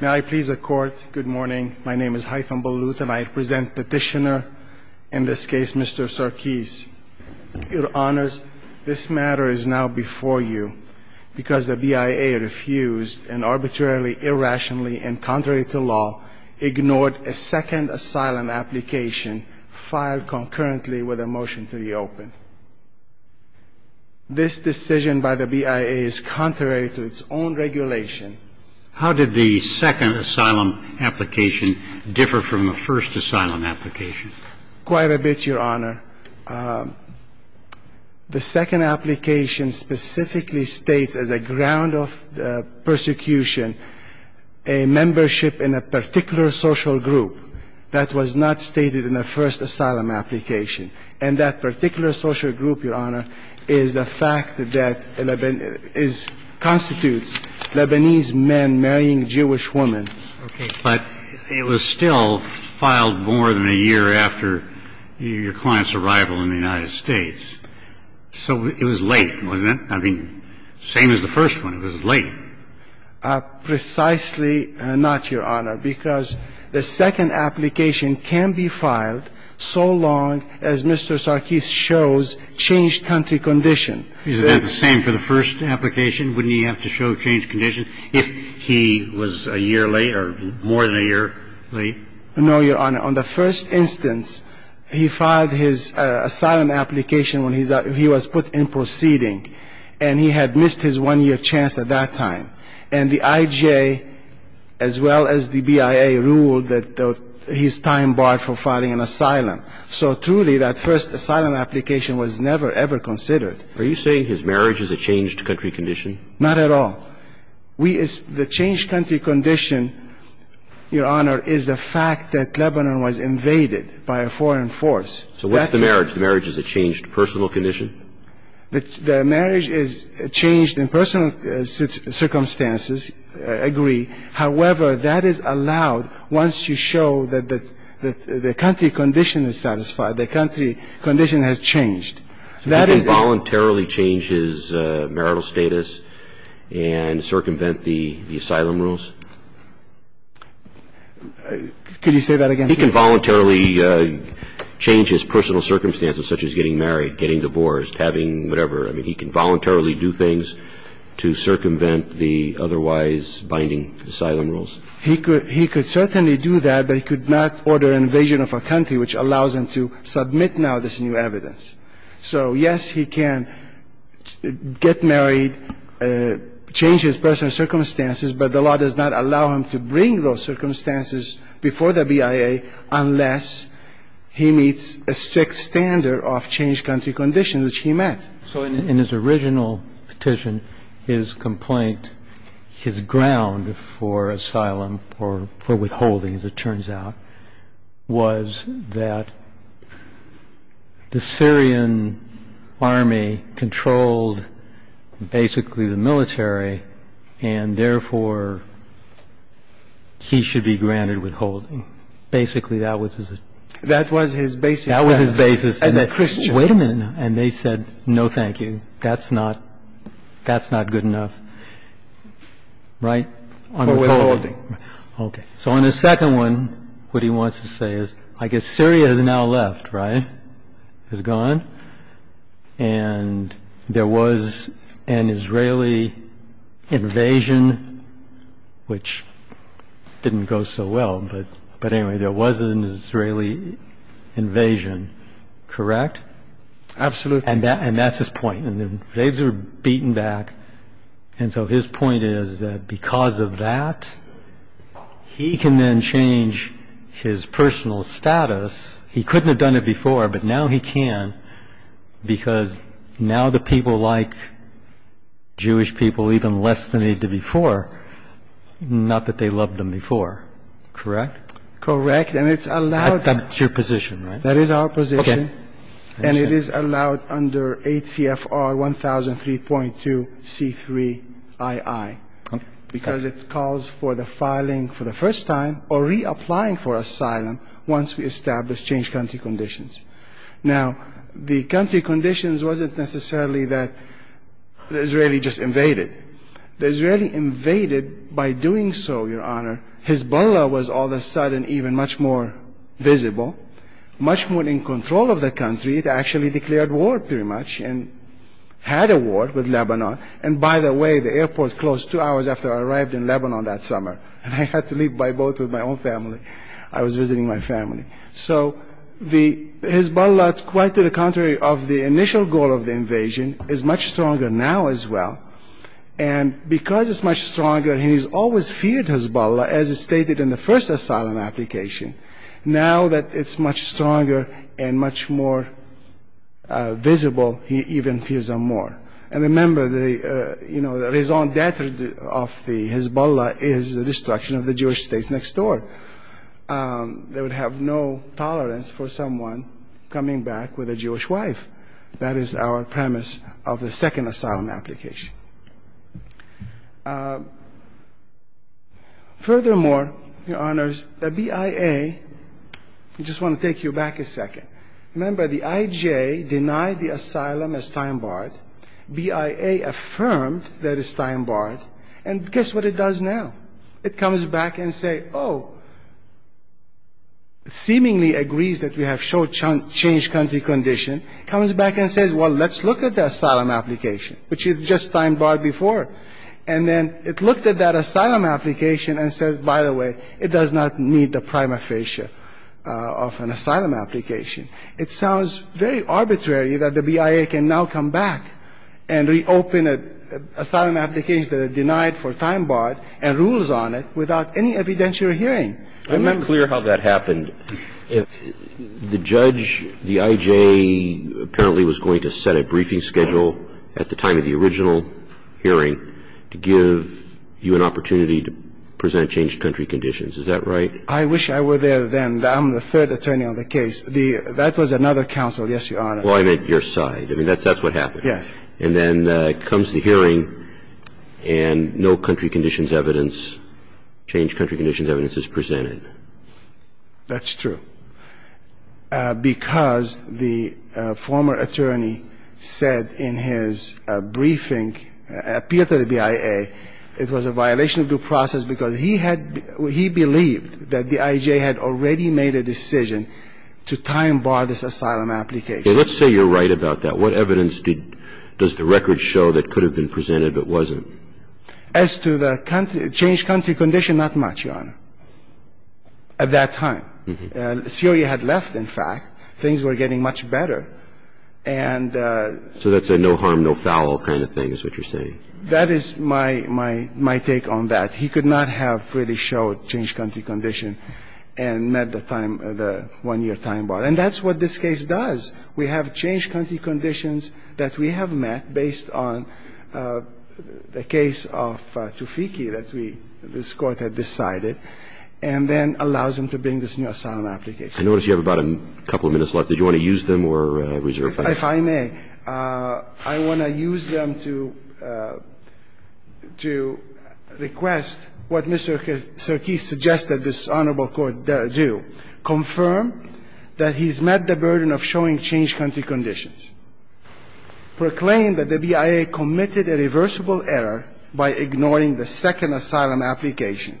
May I please accord good morning my name is Haitham Baluth and I present petitioner in this case Mr. Sarkis. Your honors this matter is now before you because the BIA refused and arbitrarily irrationally and contrary to law ignored a second asylum application filed concurrently with a motion to reopen. This decision by the BIA is contrary to its own regulation. How did the second asylum application differ from the first asylum application? Quite a bit your honor. The second application specifically states as a ground of persecution a membership in a particular social group that was not stated in the first asylum application. And that particular social group your honor is the fact that is constitutes Lebanese men marrying Jewish women. But it was still filed more than a year after your client's arrival in the United States. So it was late wasn't it? I mean same as the first one it was late. Precisely not your honor because the second application can be filed so long as Mr. Sarkis shows changed country condition. Isn't that the same for the first application? Wouldn't he have to show changed condition if he was a year late or more than a year late? No your honor. On the first instance he filed his asylum application when he was put in proceeding. And he had missed his one year chance at that time. And the IGA as well as the BIA ruled that his time barred for filing an asylum. So truly that first asylum application was never ever considered. Are you saying his marriage is a changed country condition? Not at all. We is the changed country condition your honor is the fact that Lebanon was invaded by a foreign force. So what's the marriage? The marriage is a changed personal condition? The marriage is changed in personal circumstances. I agree. However that is allowed once you show that the country condition is satisfied. The country condition has changed. He can voluntarily change his marital status and circumvent the asylum rules? Could you say that again? He can voluntarily change his personal circumstances such as getting married, getting divorced, having whatever. I mean he can voluntarily do things to circumvent the otherwise binding asylum rules? He could certainly do that but he could not order an invasion of a country which allows him to submit now this new evidence. So yes he can get married, change his personal circumstances, but the law does not allow him to bring those circumstances before the BIA unless he meets a strict standard of changed country conditions which he met. So in his original petition his complaint, his ground for asylum or for withholding as it turns out was that the Syrian army controlled basically the military and therefore he should be granted withholding. Basically that was his basis as a Christian. Wait a minute. And they said no thank you. That's not good enough. Right? For withholding. Okay. So on the second one what he wants to say is I guess Syria has now left, right? Has gone. And there was an Israeli invasion which didn't go so well but anyway there was an Israeli invasion. Correct? Absolutely. And that's his point. And they were beaten back and so his point is that because of that he can then change his personal status. He couldn't have done it before but now he can because now the people like Jewish people even less than they did before, not that they loved them before. Correct? Correct. And it's allowed. That's your position, right? That is our position. Okay. And it is allowed under ACFR 1003.2 C3II because it calls for the filing for the first time or reapplying for asylum once we establish changed country conditions. Now the country conditions wasn't necessarily that the Israeli just invaded. The Israeli invaded by doing so, Your Honor. Hezbollah was all of a sudden even much more visible, much more in control of the country. It actually declared war pretty much and had a war with Lebanon. And by the way, the airport closed two hours after I arrived in Lebanon that summer and I had to leave by boat with my own family. I was visiting my family. So Hezbollah, quite to the contrary of the initial goal of the invasion, is much stronger now as well. And because it's much stronger, he's always feared Hezbollah as stated in the first asylum application. Now that it's much stronger and much more visible, he even fears them more. And remember, the raison d'etre of the Hezbollah is the destruction of the Jewish states next door. They would have no tolerance for someone coming back with a Jewish wife. That is our premise of the second asylum application. Furthermore, Your Honors, the BIA, I just want to take you back a second. Remember, the IJ denied the asylum as time-barred. BIA affirmed that it's time-barred. And guess what it does now? It comes back and says, oh, it seemingly agrees that we have changed country condition, comes back and says, well, let's look at the asylum application, which is just time-barred before. And then it looked at that asylum application and says, by the way, it does not meet the prima facie of an asylum application. It sounds very arbitrary that the BIA can now come back and reopen an asylum application that it denied for time-barred and rules on it without any evidentiary hearing. I'm not clear how that happened. The judge, the IJ, apparently was going to set a briefing schedule at the time of the original hearing to give you an opportunity to present changed country conditions. Is that right? I wish I were there then. I'm the third attorney on the case. That was another counsel, yes, Your Honor. Well, I meant your side. I mean, that's what happened. Yes. And then comes the hearing and no country conditions evidence, changed country conditions evidence is presented. That's true. Because the former attorney said in his briefing, appealed to the BIA, it was a violation of due process because he had he believed that the IJ had already made a decision to time-bar this asylum application. Okay. Let's say you're right about that. What evidence does the record show that could have been presented but wasn't? As to the changed country condition, not much, Your Honor, at that time. Syria had left, in fact. Things were getting much better. So that's a no harm, no foul kind of thing is what you're saying? That is my take on that. He could not have really showed changed country condition and met the time, the one-year time-bar. And that's what this case does. We have changed country conditions that we have met based on the case of Tufekhi that we, this Court had decided, and then allows him to bring this new asylum application. I notice you have about a couple of minutes left. Do you want to use them or reserve them? If I may. I want to use them to request what Mr. Cerqui suggested this Honorable Court do. Confirm that he's met the burden of showing changed country conditions. Proclaim that the BIA committed a reversible error by ignoring the second asylum application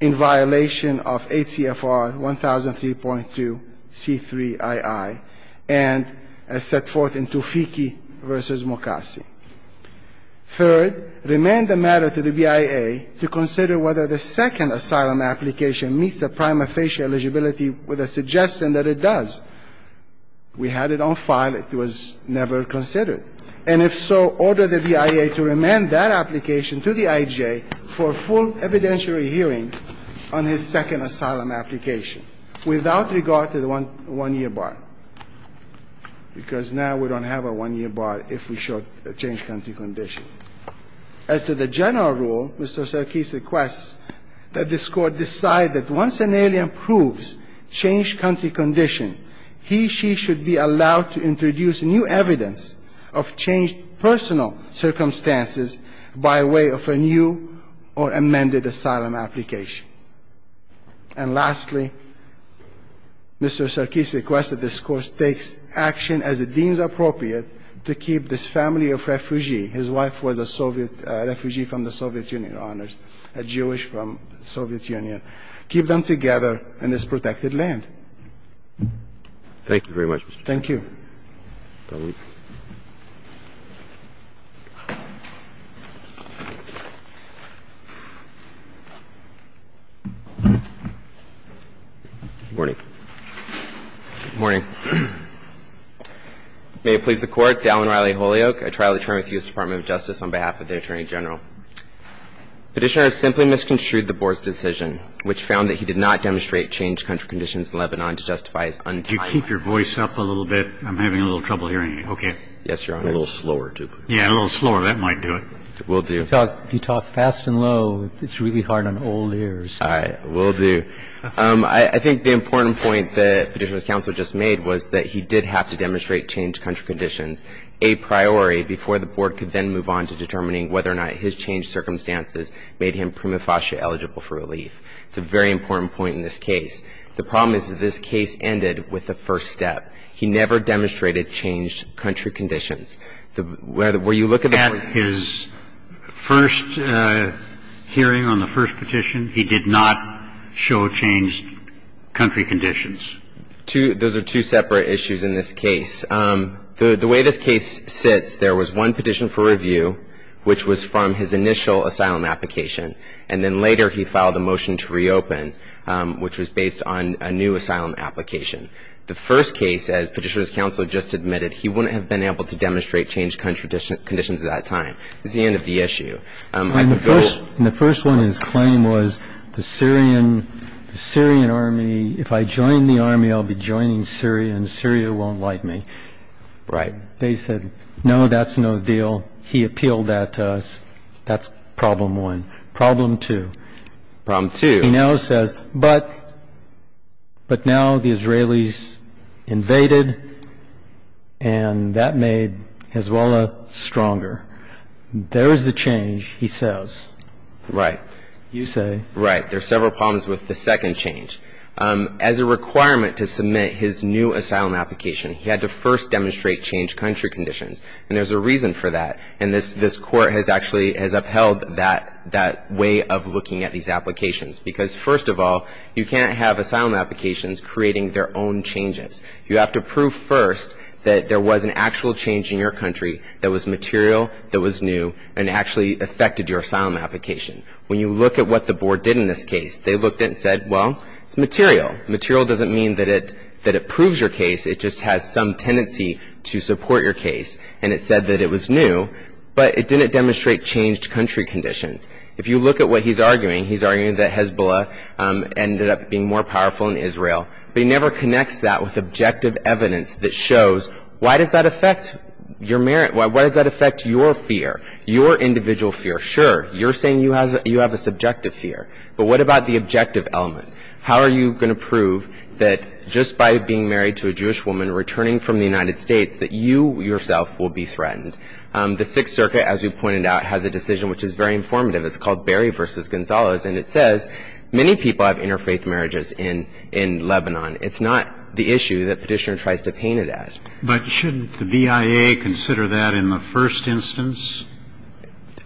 in violation of 8 CFR 1003.2 C3II and as set forth in Tufekhi v. Mokassi. Third, remain the matter to the BIA to consider whether the second asylum application meets the prima facie eligibility with a suggestion that it does. We had it on file. It was never considered. And if so, order the BIA to remain that application to the IJ for a full evidentiary hearing on his second asylum application without regard to the one-year bar, because now we don't have a one-year bar if we show a changed country condition. As to the general rule, Mr. Cerqui requests that this Court decide that once an alien proves changed country condition, he, she should be allowed to introduce new evidence of changed personal circumstances by way of a new or amended asylum application. And lastly, Mr. Cerqui requests that this Court take action as it deems appropriate to keep this family of refugee his wife was a Soviet refugee from the Soviet Union, honors, a Jewish from the Soviet Union, keep them together in this protected land. Thank you very much, Mr. Cerqui. Thank you. Good morning. May it please the Court. Dallin Riley Holyoak, a trial attorney with the U.S. Department of Justice on behalf of the Attorney General. Petitioner simply misconstrued the Board's decision, which found that he did not demonstrate changed country conditions in Lebanon to justify his untimely departure. Mr. Riley, could you keep your voice up a little bit? I'm having a little trouble hearing you. Okay. Yes, Your Honor. A little slower, too. Yeah, a little slower. That might do it. It will do. If you talk fast and low, it's really hard on old ears. All right. Will do. I think the important point that Petitioner's counsel just made was that he did have to demonstrate changed country conditions a priori before the Board could then move on to determining whether or not his changed circumstances made him prima facie eligible for relief. It's a very important point in this case. The problem is that this case ended with a first step. He never demonstrated changed country conditions. Where you look at the Court's ---- At his first hearing on the first petition, he did not show changed country conditions. Those are two separate issues in this case. The way this case sits, there was one petition for review, which was from his initial asylum application, and then later he filed a motion to reopen, which was based on a new asylum application. The first case, as Petitioner's counsel just admitted, he wouldn't have been able to demonstrate changed country conditions at that time. This is the end of the issue. The first one in his claim was the Syrian Army, if I join the Army, I'll be joining Syria, and Syria won't like me. Right. They said, no, that's no deal. He appealed that to us. That's problem one. Problem two. Problem two. He now says, but now the Israelis invaded, and that made Hezbollah stronger. There is the change, he says. Right. You say. Right. There are several problems with the second change. As a requirement to submit his new asylum application, he had to first demonstrate changed country conditions. And there's a reason for that. And this court has actually upheld that way of looking at these applications. Because, first of all, you can't have asylum applications creating their own changes. You have to prove first that there was an actual change in your country that was material, that was new, and actually affected your asylum application. When you look at what the board did in this case, they looked at it and said, well, it's material. Material doesn't mean that it proves your case. It just has some tendency to support your case. And it said that it was new. But it didn't demonstrate changed country conditions. If you look at what he's arguing, he's arguing that Hezbollah ended up being more powerful in Israel. But he never connects that with objective evidence that shows why does that affect your merit? Why does that affect your fear? Your individual fear? Sure. You're saying you have a subjective fear. But what about the objective element? How are you going to prove that just by being married to a Jewish woman, returning from the United States, that you yourself will be threatened? The Sixth Circuit, as you pointed out, has a decision which is very informative. It's called Berry v. Gonzalez. And it says many people have interfaith marriages in Lebanon. It's not the issue that Petitioner tries to paint it as. But shouldn't the BIA consider that in the first instance?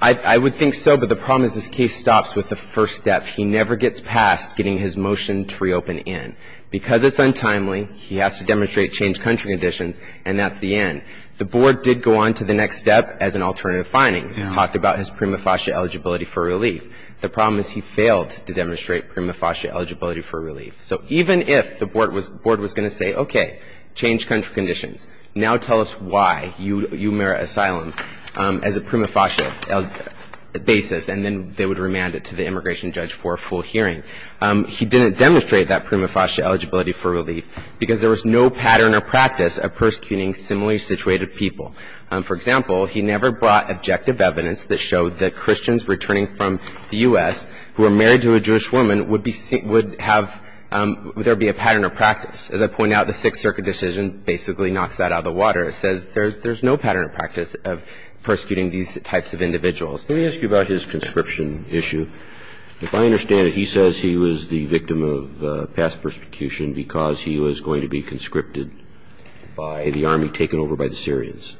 I would think so. But the problem is this case stops with the first step. He never gets past getting his motion to reopen in. Because it's untimely, he has to demonstrate changed country conditions, and that's the end. The board did go on to the next step as an alternative finding. It talked about his prima facie eligibility for relief. The problem is he failed to demonstrate prima facie eligibility for relief. So even if the board was going to say, okay, change country conditions, now tell us why you merit asylum as a prima facie basis, and then they would remand it to the immigration judge for a full hearing. He didn't demonstrate that prima facie eligibility for relief because there was no pattern or practice of persecuting similarly situated people. For example, he never brought objective evidence that showed that Christians returning from the U.S. who are married to a Jewish woman would have – there would be a pattern or practice. As I pointed out, the Sixth Circuit decision basically knocks that out of the water. It says there's no pattern or practice of persecuting these types of individuals. Let me ask you about his conscription issue. If I understand it, he says he was the victim of past persecution because he was going to be conscripted by the army, taken over by the Syrians.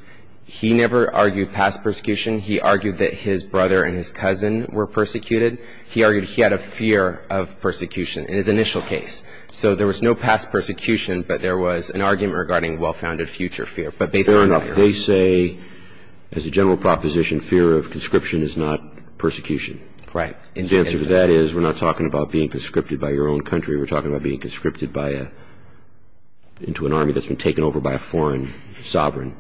He never argued past persecution. He argued that his brother and his cousin were persecuted. He argued he had a fear of persecution in his initial case. So there was no past persecution, but there was an argument regarding well-founded future fear. Fair enough. They say, as a general proposition, fear of conscription is not persecution. Right. And the answer to that is we're not talking about being conscripted by your own country. We're talking about being conscripted by a – into an army that's been taken over by a foreign sovereign.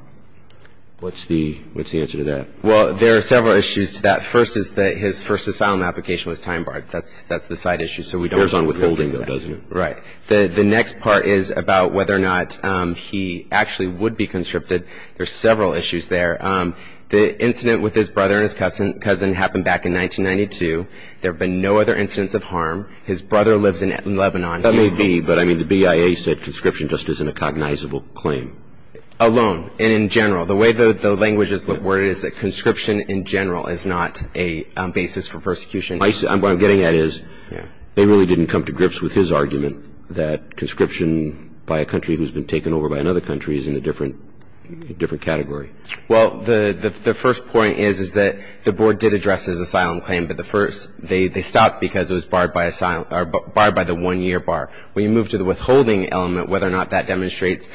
What's the answer to that? Well, there are several issues to that. First is that his first asylum application was time barred. That's the side issue, so we don't – Bears on withholding, though, doesn't it? Right. The next part is about whether or not he actually would be conscripted. There are several issues there. The incident with his brother and his cousin happened back in 1992. There have been no other incidents of harm. His brother lives in Lebanon. That may be, but, I mean, the BIA said conscription just isn't a cognizable claim. Alone and in general. The way the language is worded is that conscription in general is not a basis for persecution. What I'm getting at is they really didn't come to grips with his argument that conscription by a country who's been taken over by another country is in a different category. Well, the first point is that the board did address his asylum claim, but they stopped because it was barred by the one-year bar. When you move to the withholding element, whether or not that demonstrates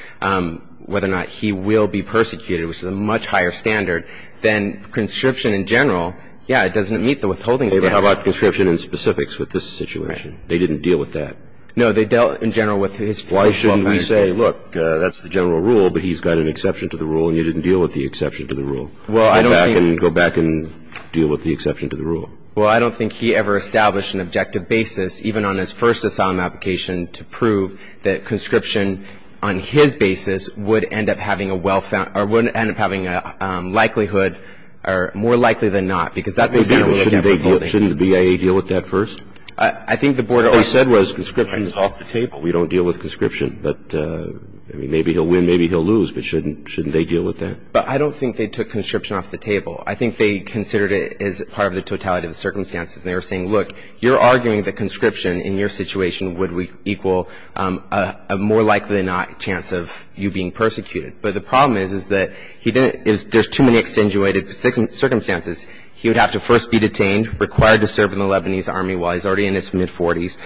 whether or not he will be persecuted, which is a much higher standard, then conscription in general, yeah, it doesn't meet the withholding standard. How about conscription in specifics with this situation? They didn't deal with that. No, they dealt in general with his. Why shouldn't we say, look, that's the general rule, but he's got an exception to the rule and you didn't deal with the exception to the rule? Well, I don't think. Go back and deal with the exception to the rule. Well, I don't think he ever established an objective basis, even on his first asylum application, to prove that conscription on his basis would end up having a well-found, or would end up having a likelihood, or more likely than not, because that's established. Shouldn't the BIA deal with that first? I think the board. What they said was conscription is off the table. We don't deal with conscription. But, I mean, maybe he'll win, maybe he'll lose, but shouldn't they deal with that? But I don't think they took conscription off the table. I think they considered it as part of the totality of the circumstances, and they were saying, look, you're arguing that conscription in your situation would equal a more likely than not chance of you being persecuted. But the problem is, is that he didn't – there's too many extenuated circumstances. He would have to first be detained, required to serve in the Lebanese Army while he's already in his mid-40s,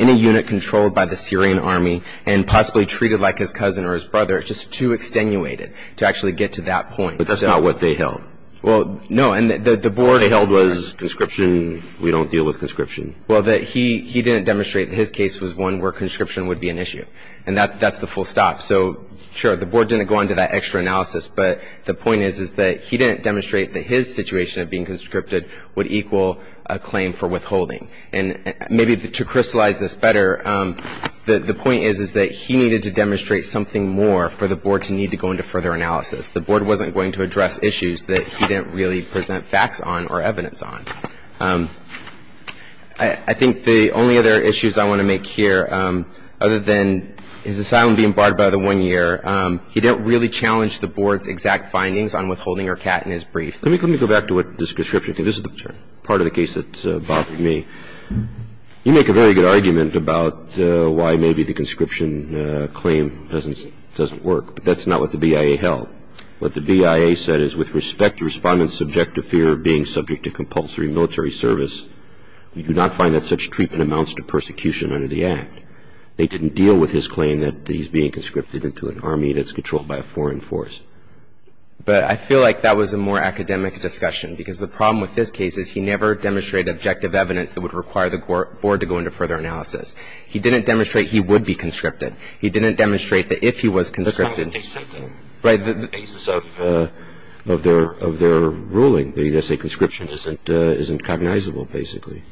in a unit controlled by the Syrian Army, and possibly treated like his cousin or his brother. It's just too extenuated to actually get to that point. But that's not what they held. Well, no. And the board – What they held was conscription, we don't deal with conscription. Well, that he didn't demonstrate that his case was one where conscription would be an issue. And that's the full stop. So, sure, the board didn't go into that extra analysis, but the point is, is that he didn't demonstrate that his situation of being conscripted would equal a claim for withholding. And maybe to crystallize this better, the point is, is that he needed to demonstrate something more for the board to need to go into further analysis. The board wasn't going to address issues that he didn't really present facts on or evidence on. I think the only other issues I want to make here, other than his asylum being barred by the 1-year, he didn't really challenge the board's exact findings on withholding or cat in his brief. Let me go back to what this conscription – this is the part of the case that bothered me. You make a very good argument about why maybe the conscription claim doesn't work. But that's not what the BIA held. What the BIA said is, with respect to Respondent's subjective fear of being subject to compulsory military service, we do not find that such treatment amounts to persecution under the Act. They didn't deal with his claim that he's being conscripted into an army that's controlled by a foreign force. But I feel like that was a more academic discussion, because the problem with this case is he never demonstrated objective evidence that would require the board to go into further analysis. He didn't demonstrate he would be conscripted. He didn't demonstrate that if he was conscripted – But that's not the basis of their ruling. They say conscription isn't cognizable, basically.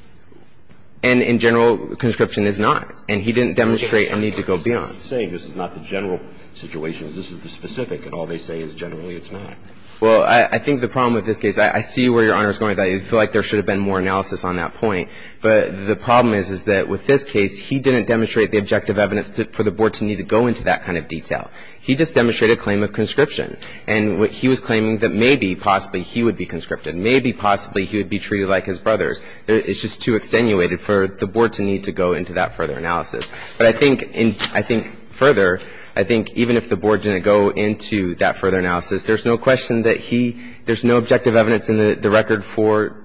And in general, conscription is not. And he didn't demonstrate a need to go beyond. And I'm not saying this is not the general situation. This is the specific. And all they say is generally it's not. Well, I think the problem with this case – I see where Your Honor is going with that. I feel like there should have been more analysis on that point. But the problem is, is that with this case, he didn't demonstrate the objective evidence for the board to need to go into that kind of detail. He just demonstrated a claim of conscription. And he was claiming that maybe, possibly, he would be conscripted. Maybe, possibly, he would be treated like his brothers. It's just too extenuated for the board to need to go into that further analysis. But I think further, I think even if the board didn't go into that further analysis, there's no question that he – there's no objective evidence in the record for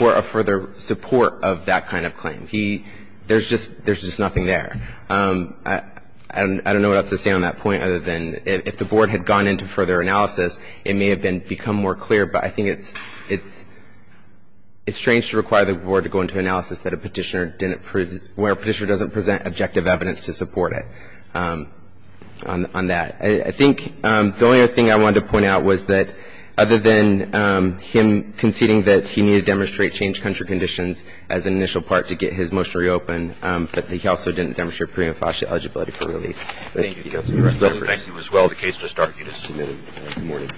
a further support of that kind of claim. He – there's just nothing there. I don't know what else to say on that point other than if the board had gone into further analysis, it may have become more clear. But I think it's strange to require the board to go into analysis that a Petitioner didn't prove – where a Petitioner doesn't present objective evidence to support it on that. I think the only other thing I wanted to point out was that, other than him conceding that he needed to demonstrate changed country conditions as an initial part to get his motion reopened, that he also didn't demonstrate preemptive eligibility for relief. Thank you, Counselor. Thank you as well. The case just argued is submitted. Good morning.